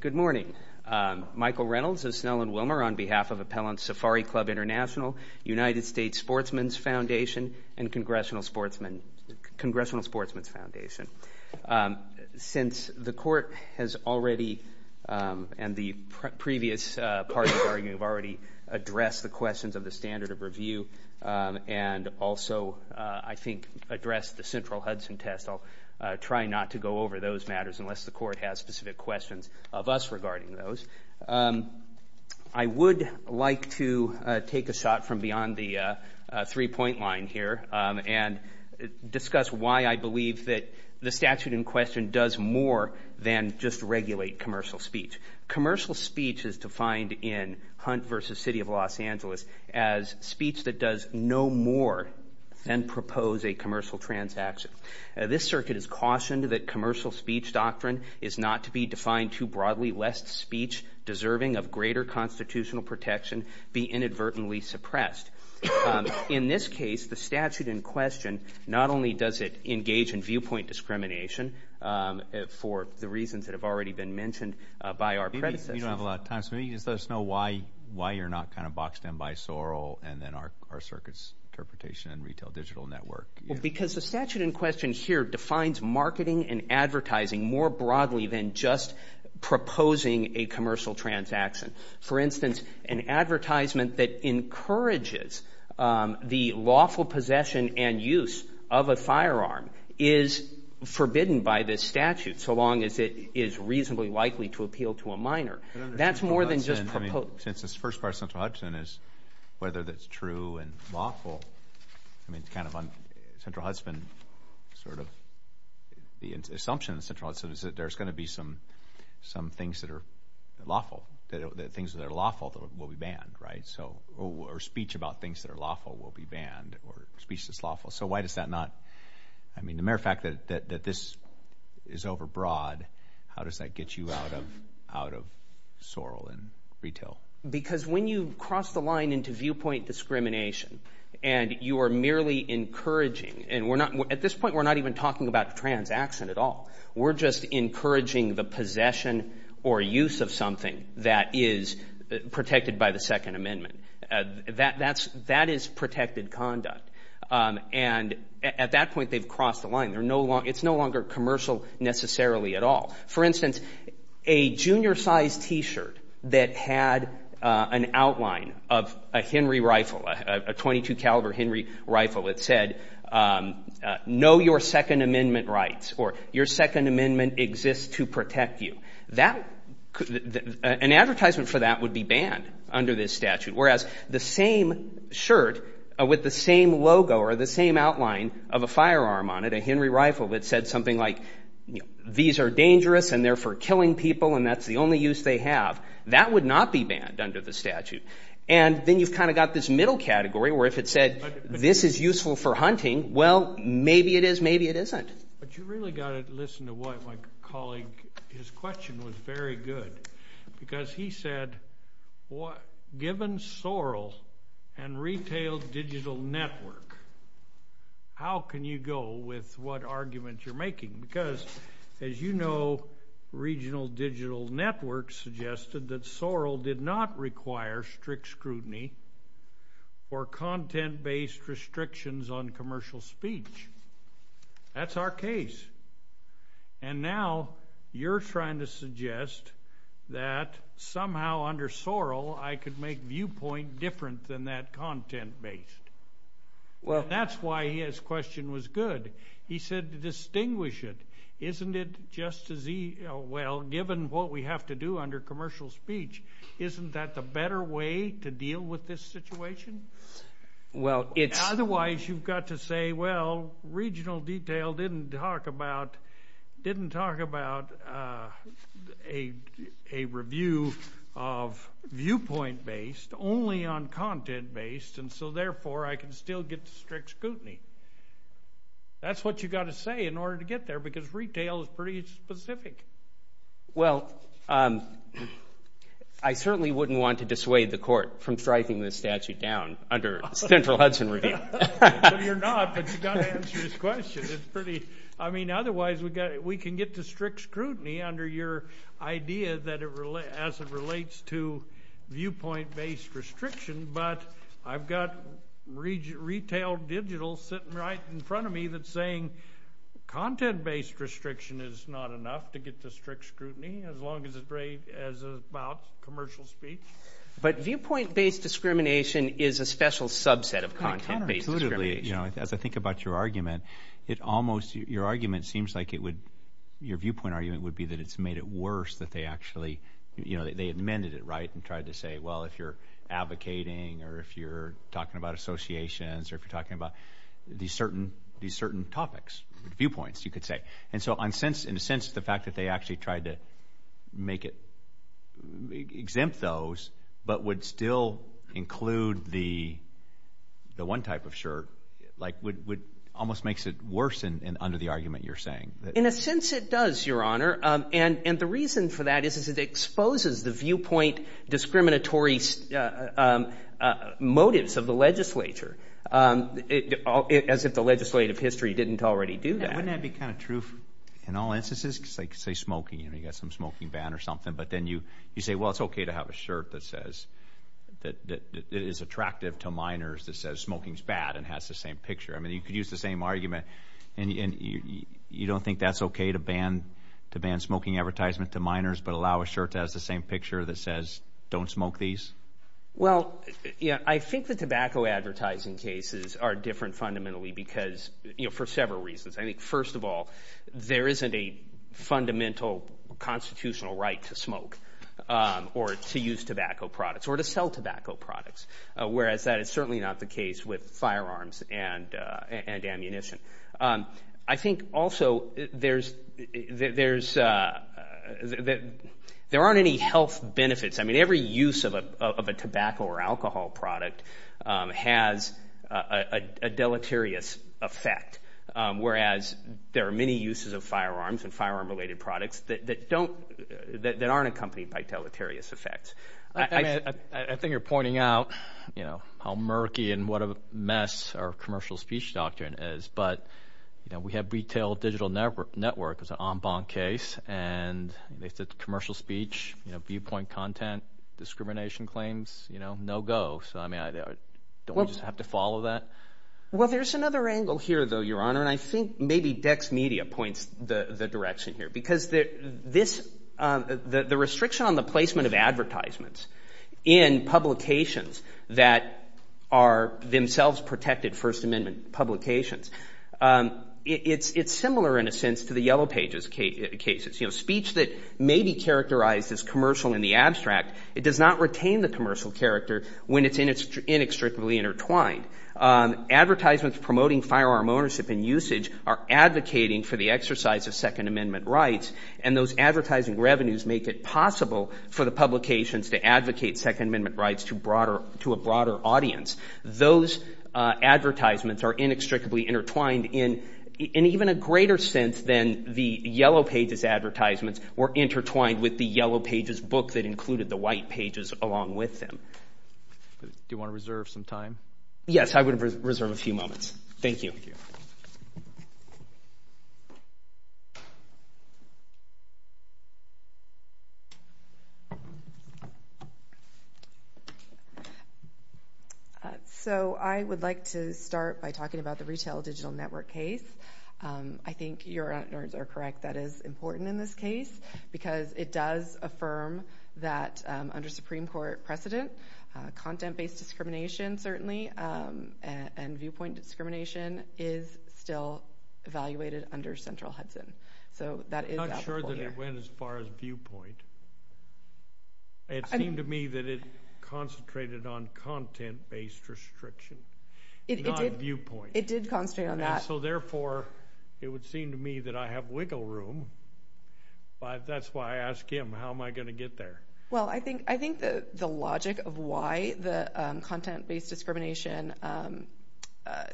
Good morning. Michael Reynolds of Snell and Wilmer on behalf of Appellant Safari Club International, United States Sportsman's Foundation, and Congressional Sportsman's Foundation. Since the court has already, and the previous parties have already addressed the questions of the standard of review and also, I think, address the central Hudson test, I'll try not to go over those matters unless the court has specific questions of us regarding those. I would like to take a shot from beyond the three-point line here and discuss why I believe that the statute in question does more than just regulate commercial speech. Commercial speech is defined in Hunt v. City of Los Angeles as speech that does no more than propose a commercial transaction. This circuit has cautioned that commercial speech doctrine is not to be defined too broadly lest speech deserving of greater constitutional protection be inadvertently suppressed. In this case, the statute in question not only does it engage in viewpoint discrimination for the reasons that have already been mentioned by our predecessors. You don't have a lot of time, so maybe you could just let us know why you're not kind of boxed in by Sorrell and then our circuit's interpretation and retail digital network. Well, because the statute in question here defines marketing and advertising more broadly than just proposing a commercial transaction. For instance, an advertisement that encourages the lawful possession and use of a firearm is forbidden by this statute, so long as it is reasonably likely to appeal to a minor. That's more than just proposing. I mean, since this first part of Central Hudson is whether that's true and lawful, I mean, it's kind of on Central Hudson, sort of, the assumption in Central Hudson is that there's going to be some things that are lawful, things that are lawful that will be banned, right? So, or speech about things that are lawful will be banned, or speech that's lawful. So, why does that not, I mean, the mere fact that this is overbroad, how does that get you out of Sorrell and retail? Because when you cross the line into viewpoint discrimination and you are merely encouraging, and at this point we're not even talking about transaction at all. We're just encouraging the possession or use of something that is protected by the Second Amendment. That is protected conduct. And at that point, they've crossed the line. It's no longer commercial necessarily at all. For instance, a junior-sized T-shirt that had an outline of a Henry rifle, a .22 caliber that, an advertisement for that would be banned under this statute, whereas the same shirt with the same logo or the same outline of a firearm on it, a Henry rifle that said something like, you know, these are dangerous and they're for killing people and that's the only use they have, that would not be banned under the statute. And then you've kind of got this middle category where if it said this is useful for hunting, well, maybe it is, maybe it isn't. But you really got to listen to what my colleague, his question was very good because he said, given Sorrell and retail digital network, how can you go with what argument you're making? Because as you know, regional digital networks suggested that Sorrell did not require strict scrutiny or content-based restrictions on commercial speech. That's our case. And now you're trying to suggest that somehow under Sorrell I could make viewpoint different than that content-based. Well, that's why his question was good. He said to distinguish it, isn't it just as he, well, given what we have to do under commercial speech, isn't that the better way to deal with this situation? Well, it's... Otherwise you've got to say, well, regional detail didn't talk about a review of viewpoint-based only on content-based and so therefore I can still get strict scrutiny. That's what you got to say in order to get there because retail is pretty specific. Well, I certainly wouldn't want to dissuade the court from striking this statute down under Central Hudson Review. You're not, but you've got to answer his question. It's pretty... I mean, otherwise we can get to strict scrutiny under your idea as it relates to viewpoint-based restriction, but I've got retail digital sitting right in front of me that's saying content-based restriction is not enough to get to strict scrutiny as long as it's about commercial speech. But viewpoint-based discrimination is a special subset of content-based discrimination. As I think about your argument, it almost... Your argument seems like it would... Your viewpoint argument would be that it's made it worse that they actually... They amended it, right, and tried to say, well, if you're advocating or if you're talking about associations or if you're talking about these certain topics, viewpoints, you could say. And so in a sense, the fact that they actually tried to make it... Exempt those but would still include the one type of shirt almost makes it worse under the argument you're saying. In a sense, it does, Your Honor, and the reason for that is it exposes the viewpoint discriminatory motives of the legislature as if the legislative history didn't already do that. Wouldn't that be kind of true in all instances? Say smoking, you've got some smoking ban or something, but then you say, well, it's okay to have a shirt that is attractive to minors that says smoking is bad and has the same picture. I mean, you could use the same argument and you don't think that's okay to ban smoking advertisement to minors but allow a shirt that has the same picture that says don't smoke these? Well, yeah, I think the tobacco advertising cases are different fundamentally because for several reasons. I think, first of all, there isn't a fundamental constitutional right to smoke or to use tobacco products or to sell tobacco products, whereas that is certainly not the case with firearms and ammunition. I think also there aren't any health benefits. I mean, every use of a tobacco or alcohol product has a deleterious effect, whereas there are many uses of firearms and firearm-related products that aren't accompanied by deleterious effects. I think you're pointing out how murky and what a mess our commercial speech doctrine is. But, you know, we have retail digital network as an en banc case, and they said commercial speech, viewpoint content, discrimination claims, you know, no go. So, I mean, don't we just have to follow that? Well, there's another angle here, though, Your Honor, and I think maybe Dex Media points the direction here because the restriction on the placement of advertisements in publications that are themselves protected First Amendment publications. It's similar, in a sense, to the Yellow Pages cases. You know, speech that may be characterized as commercial in the abstract, it does not retain the commercial character when it's inextricably intertwined. Advertisements promoting firearm ownership and usage are advocating for the exercise of Second Amendment rights, and those advertising revenues make it possible for the publications to advocate Second Amendment rights to a broader audience. Those advertisements are inextricably intertwined in even a greater sense than the Yellow Pages advertisements were intertwined with the Yellow Pages book that included the White Pages along with them. Do you want to reserve some time? Yes, I would reserve a few moments. Thank you. Thank you. Thank you. So I would like to start by talking about the Retail Digital Network case. I think Your Honors are correct, that is important in this case because it does affirm that under is still evaluated under Central Hudson. I'm not sure that it went as far as viewpoint. It seemed to me that it concentrated on content-based restriction, not viewpoint. It did concentrate on that. And so therefore, it would seem to me that I have wiggle room. That's why I ask him, how am I going to get there? Well, I think the logic of why the content-based discrimination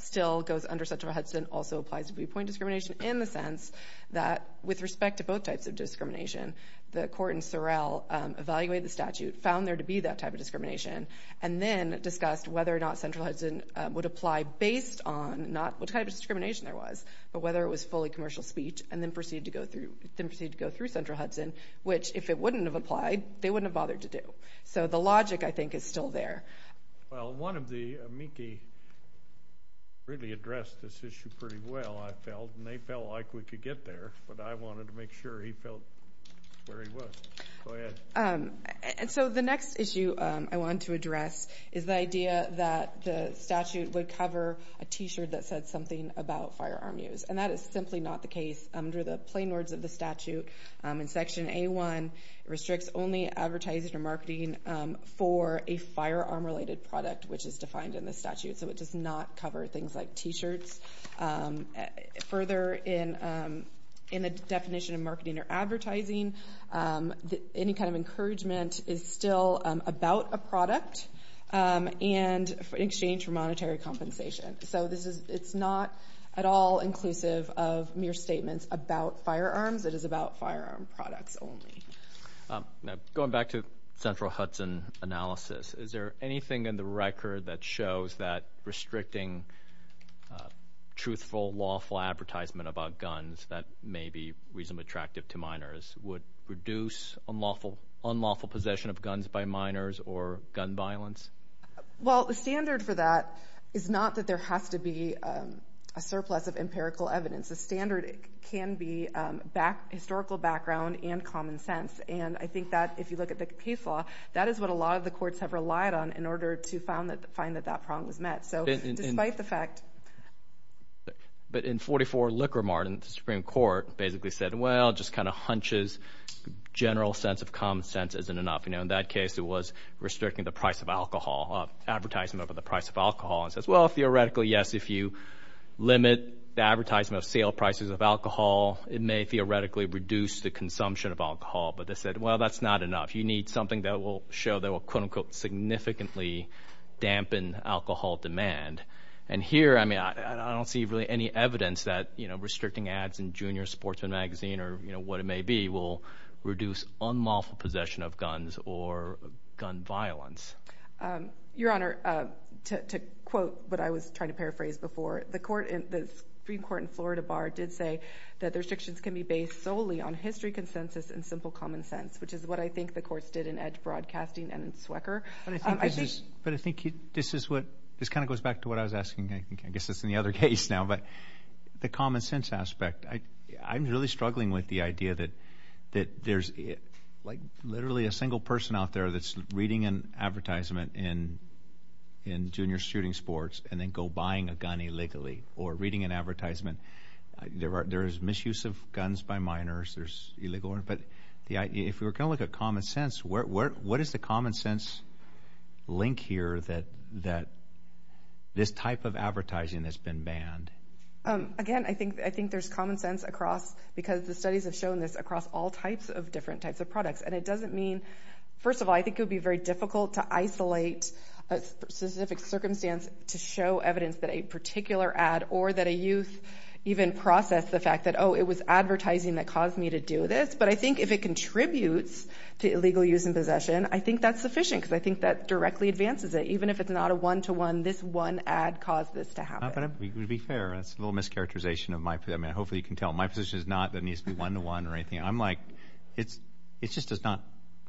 still goes under Central Hudson also applies to viewpoint discrimination in the sense that with respect to both types of discrimination, the court in Sorrell evaluated the statute, found there to be that type of discrimination, and then discussed whether or not Central Hudson would apply based on not what type of discrimination there was, but whether it was fully commercial speech, and then proceeded to go through Central Hudson, which if it wouldn't have applied, they wouldn't have bothered to do. So the logic, I think, is still there. Well, one of the amici really addressed this issue pretty well, I felt, and they felt like we could get there, but I wanted to make sure he felt where he was. Go ahead. So the next issue I want to address is the idea that the statute would cover a T-shirt that said something about firearm use. And that is simply not the case. Under the plain words of the statute in Section A-1, it restricts only advertising or marketing for a firearm-related product, which is defined in the statute. So it does not cover things like T-shirts. Further, in the definition of marketing or advertising, any kind of encouragement is still about a product in exchange for monetary compensation. So it's not at all inclusive of mere statements about firearms. It is about firearm products only. Going back to Central Hudson analysis, is there anything in the record that shows that restricting truthful, lawful advertisement about guns that may be reasonably attractive to minors would reduce unlawful possession of guns by minors or gun violence? Well, the standard for that is not that there has to be a surplus of empirical evidence. The standard can be historical background and common sense. And I think that if you look at the case law, that is what a lot of the courts have relied on in order to find that that prong was met. So despite the fact – But in 44 Liquor Martin, the Supreme Court basically said, well, just kind of hunches, general sense of common sense isn't enough. In that case, it was restricting the price of alcohol, advertising over the price of alcohol. It says, well, theoretically, yes, if you limit the advertisement of sale prices of alcohol, it may theoretically reduce the consumption of alcohol. But they said, well, that's not enough. You need something that will show that will quote-unquote significantly dampen alcohol demand. And here, I mean, I don't see really any evidence that restricting ads in Junior Sportsman magazine or what it may be will reduce unlawful possession of guns or gun violence. Your Honor, to quote what I was trying to paraphrase before, the Supreme Court in Florida Bar did say that the restrictions can be based solely on history, consensus, and simple common sense, which is what I think the courts did in Edge Broadcasting and in Swecker. But I think this is what – this kind of goes back to what I was asking. I guess it's in the other case now. But the common sense aspect, I'm really struggling with the idea that there's, like, literally a single person out there that's reading an advertisement in junior shooting sports and then go buying a gun illegally or reading an advertisement. There is misuse of guns by minors. There's illegal – but if we were going to look at common sense, what is the common sense link here that this type of advertising has been banned? Again, I think there's common sense across – because the studies have shown this across all types of different types of products. And it doesn't mean – first of all, I think it would be very difficult to isolate a specific circumstance to show evidence that a particular ad or that a youth even processed the fact that, oh, it was advertising that caused me to do this. But I think if it contributes to illegal use and possession, I think that's sufficient because I think that directly advances it. Even if it's not a one-to-one, this one ad caused this to happen. To be fair, that's a little mischaracterization of my – I mean, hopefully you can tell. My position is not that it needs to be one-to-one or anything. I'm like – it just does not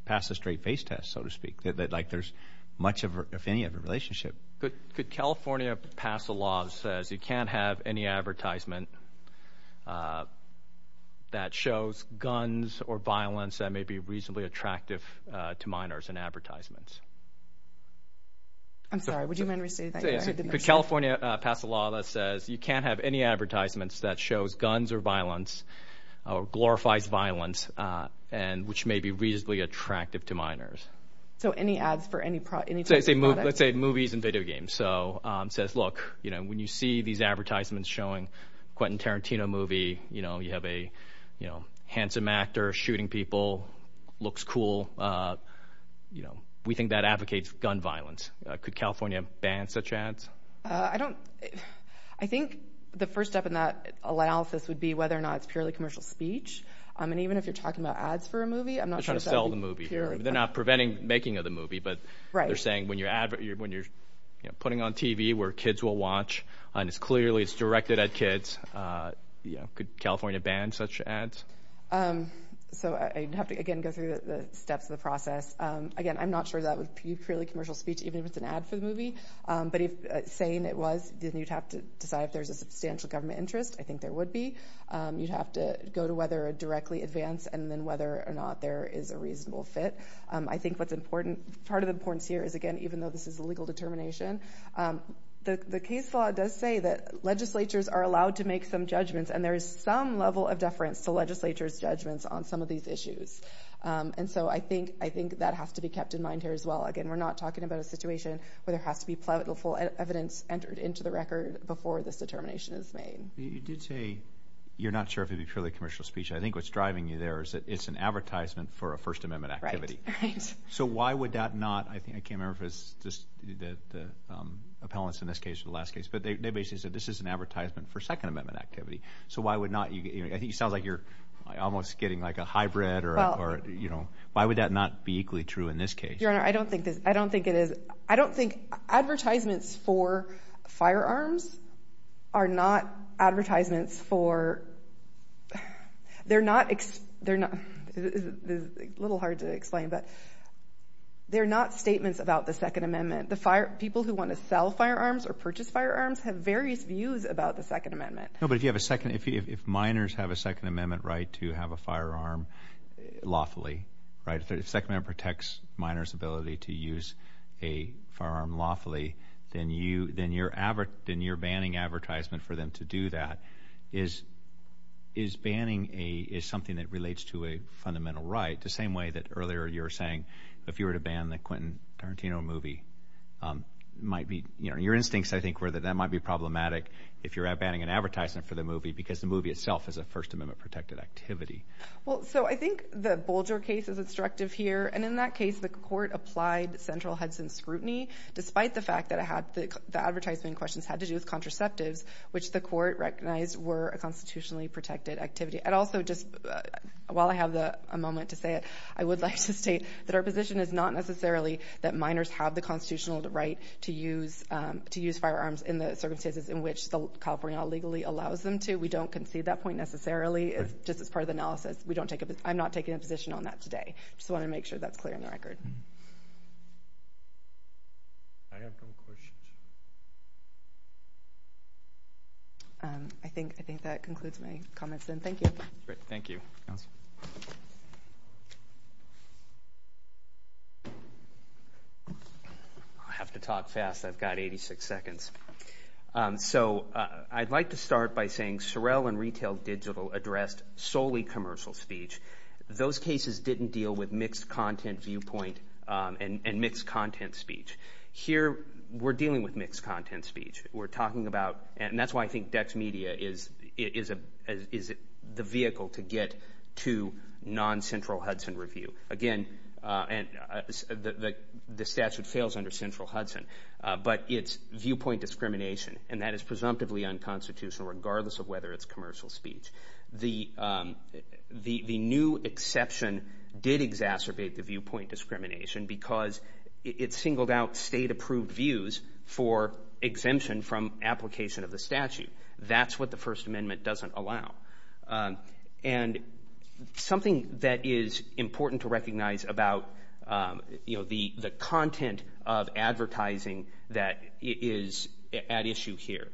pass the straight-face test, so to speak, that, like, there's much of any of a relationship. Could California pass a law that says you can't have any advertisement that shows guns or violence that may be reasonably attractive to minors in advertisements? I'm sorry. Would you mind restating that? Could California pass a law that says you can't have any advertisements that shows guns or violence or glorifies violence and which may be reasonably attractive to minors? So any ads for any type of product? Let's say movies and video games. So it says, look, when you see these advertisements showing a Quentin Tarantino movie, you have a handsome actor shooting people, looks cool. We think that advocates gun violence. Could California ban such ads? I don't – I think the first step in that analysis would be whether or not it's purely commercial speech. And even if you're talking about ads for a movie, I'm not sure that would be purely – They're trying to sell the movie. They're not preventing making of the movie. But they're saying when you're putting on TV where kids will watch and it's clearly directed at kids, could California ban such ads? So I'd have to, again, go through the steps of the process. Again, I'm not sure that would be purely commercial speech, even if it's an ad for the movie. But saying it was, then you'd have to decide if there's a substantial government interest. I think there would be. You'd have to go to whether a directly advance and then whether or not there is a reasonable fit. I think what's important – part of the importance here is, again, even though this is a legal determination, the case law does say that legislatures are allowed to make some judgments, and there is some level of deference to legislatures' judgments on some of these issues. And so I think that has to be kept in mind here as well. Again, we're not talking about a situation where there has to be plentiful evidence entered into the record before this determination is made. You did say you're not sure if it would be purely commercial speech. I think what's driving you there is that it's an advertisement for a First Amendment activity. So why would that not – I can't remember if it's just the appellants in this case or the last case. But they basically said this is an advertisement for Second Amendment activity. So why would not – I think it sounds like you're almost getting like a hybrid. Why would that not be equally true in this case? Your Honor, I don't think it is – I don't think advertisements for firearms are not advertisements for – they're not – it's a little hard to explain, but they're not statements about the Second Amendment. The people who want to sell firearms or purchase firearms have various views about the Second Amendment. No, but if you have a second – if minors have a Second Amendment right to have a firearm lawfully, right, if the Second Amendment protects minors' ability to use a firearm lawfully, then you're banning advertisement for them to do that. Is banning something that relates to a fundamental right, the same way that earlier you were saying if you were to ban the Quentin Tarantino movie, it might be – your instincts, I think, were that that might be problematic if you're banning an advertisement for the movie because the movie itself is a First Amendment-protected activity. Well, so I think the Bolger case is instructive here. And in that case, the court applied central Hudson scrutiny, despite the fact that the advertisement in question had to do with contraceptives, which the court recognized were a constitutionally-protected activity. And also, just while I have a moment to say it, I would like to state that our position is not necessarily that minors have the constitutional right to use firearms in the circumstances in which California legally allows them to. We don't concede that point necessarily. Just as part of the analysis, I'm not taking a position on that today. I just wanted to make sure that's clear on the record. I think that concludes my comments, then. Thank you. Great. Thank you. I have to talk fast. I've got 86 seconds. So I'd like to start by saying Sorrell and Retail Digital addressed solely commercial speech. Those cases didn't deal with mixed-content viewpoint and mixed-content speech. Here, we're dealing with mixed-content speech. We're talking about—and that's why I think DexMedia is the vehicle to get to non-central Hudson review. Again, the statute fails under central Hudson. But it's viewpoint discrimination, and that is presumptively unconstitutional, regardless of whether it's commercial speech. The new exception did exacerbate the viewpoint discrimination because it singled out state-approved views for exemption from application of the statute. That's what the First Amendment doesn't allow. And something that is important to recognize about the content of advertising that is at issue here,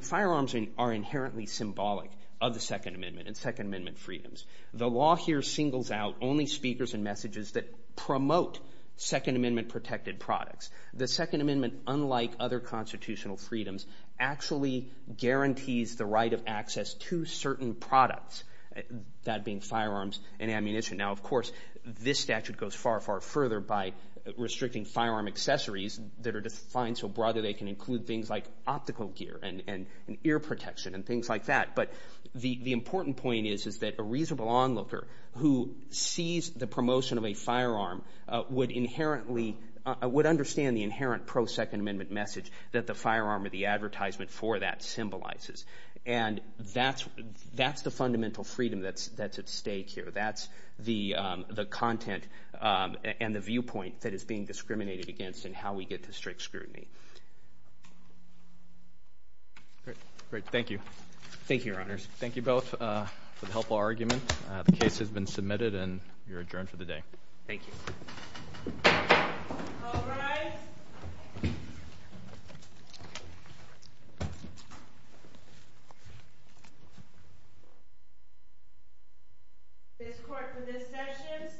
firearms are inherently symbolic of the Second Amendment and Second Amendment freedoms. The law here singles out only speakers and messages that promote Second Amendment-protected products. The Second Amendment, unlike other constitutional freedoms, actually guarantees the right of access to certain products, that being firearms and ammunition. Now, of course, this statute goes far, far further by restricting firearm accessories that are defined so broadly they can include things like optical gear and ear protection and things like that. But the important point is that a reasonable onlooker who sees the promotion of a firearm would understand the inherent pro-Second Amendment message that the firearm or the advertisement for that symbolizes. And that's the fundamental freedom that's at stake here. That's the content and the viewpoint that is being discriminated against in how we get to strict scrutiny. Great. Thank you. Thank you, Your Honors. Thank you both for the helpful argument. The case has been submitted, and you're adjourned for the day. Thank you. All rise. This court, for this session, stands adjourned.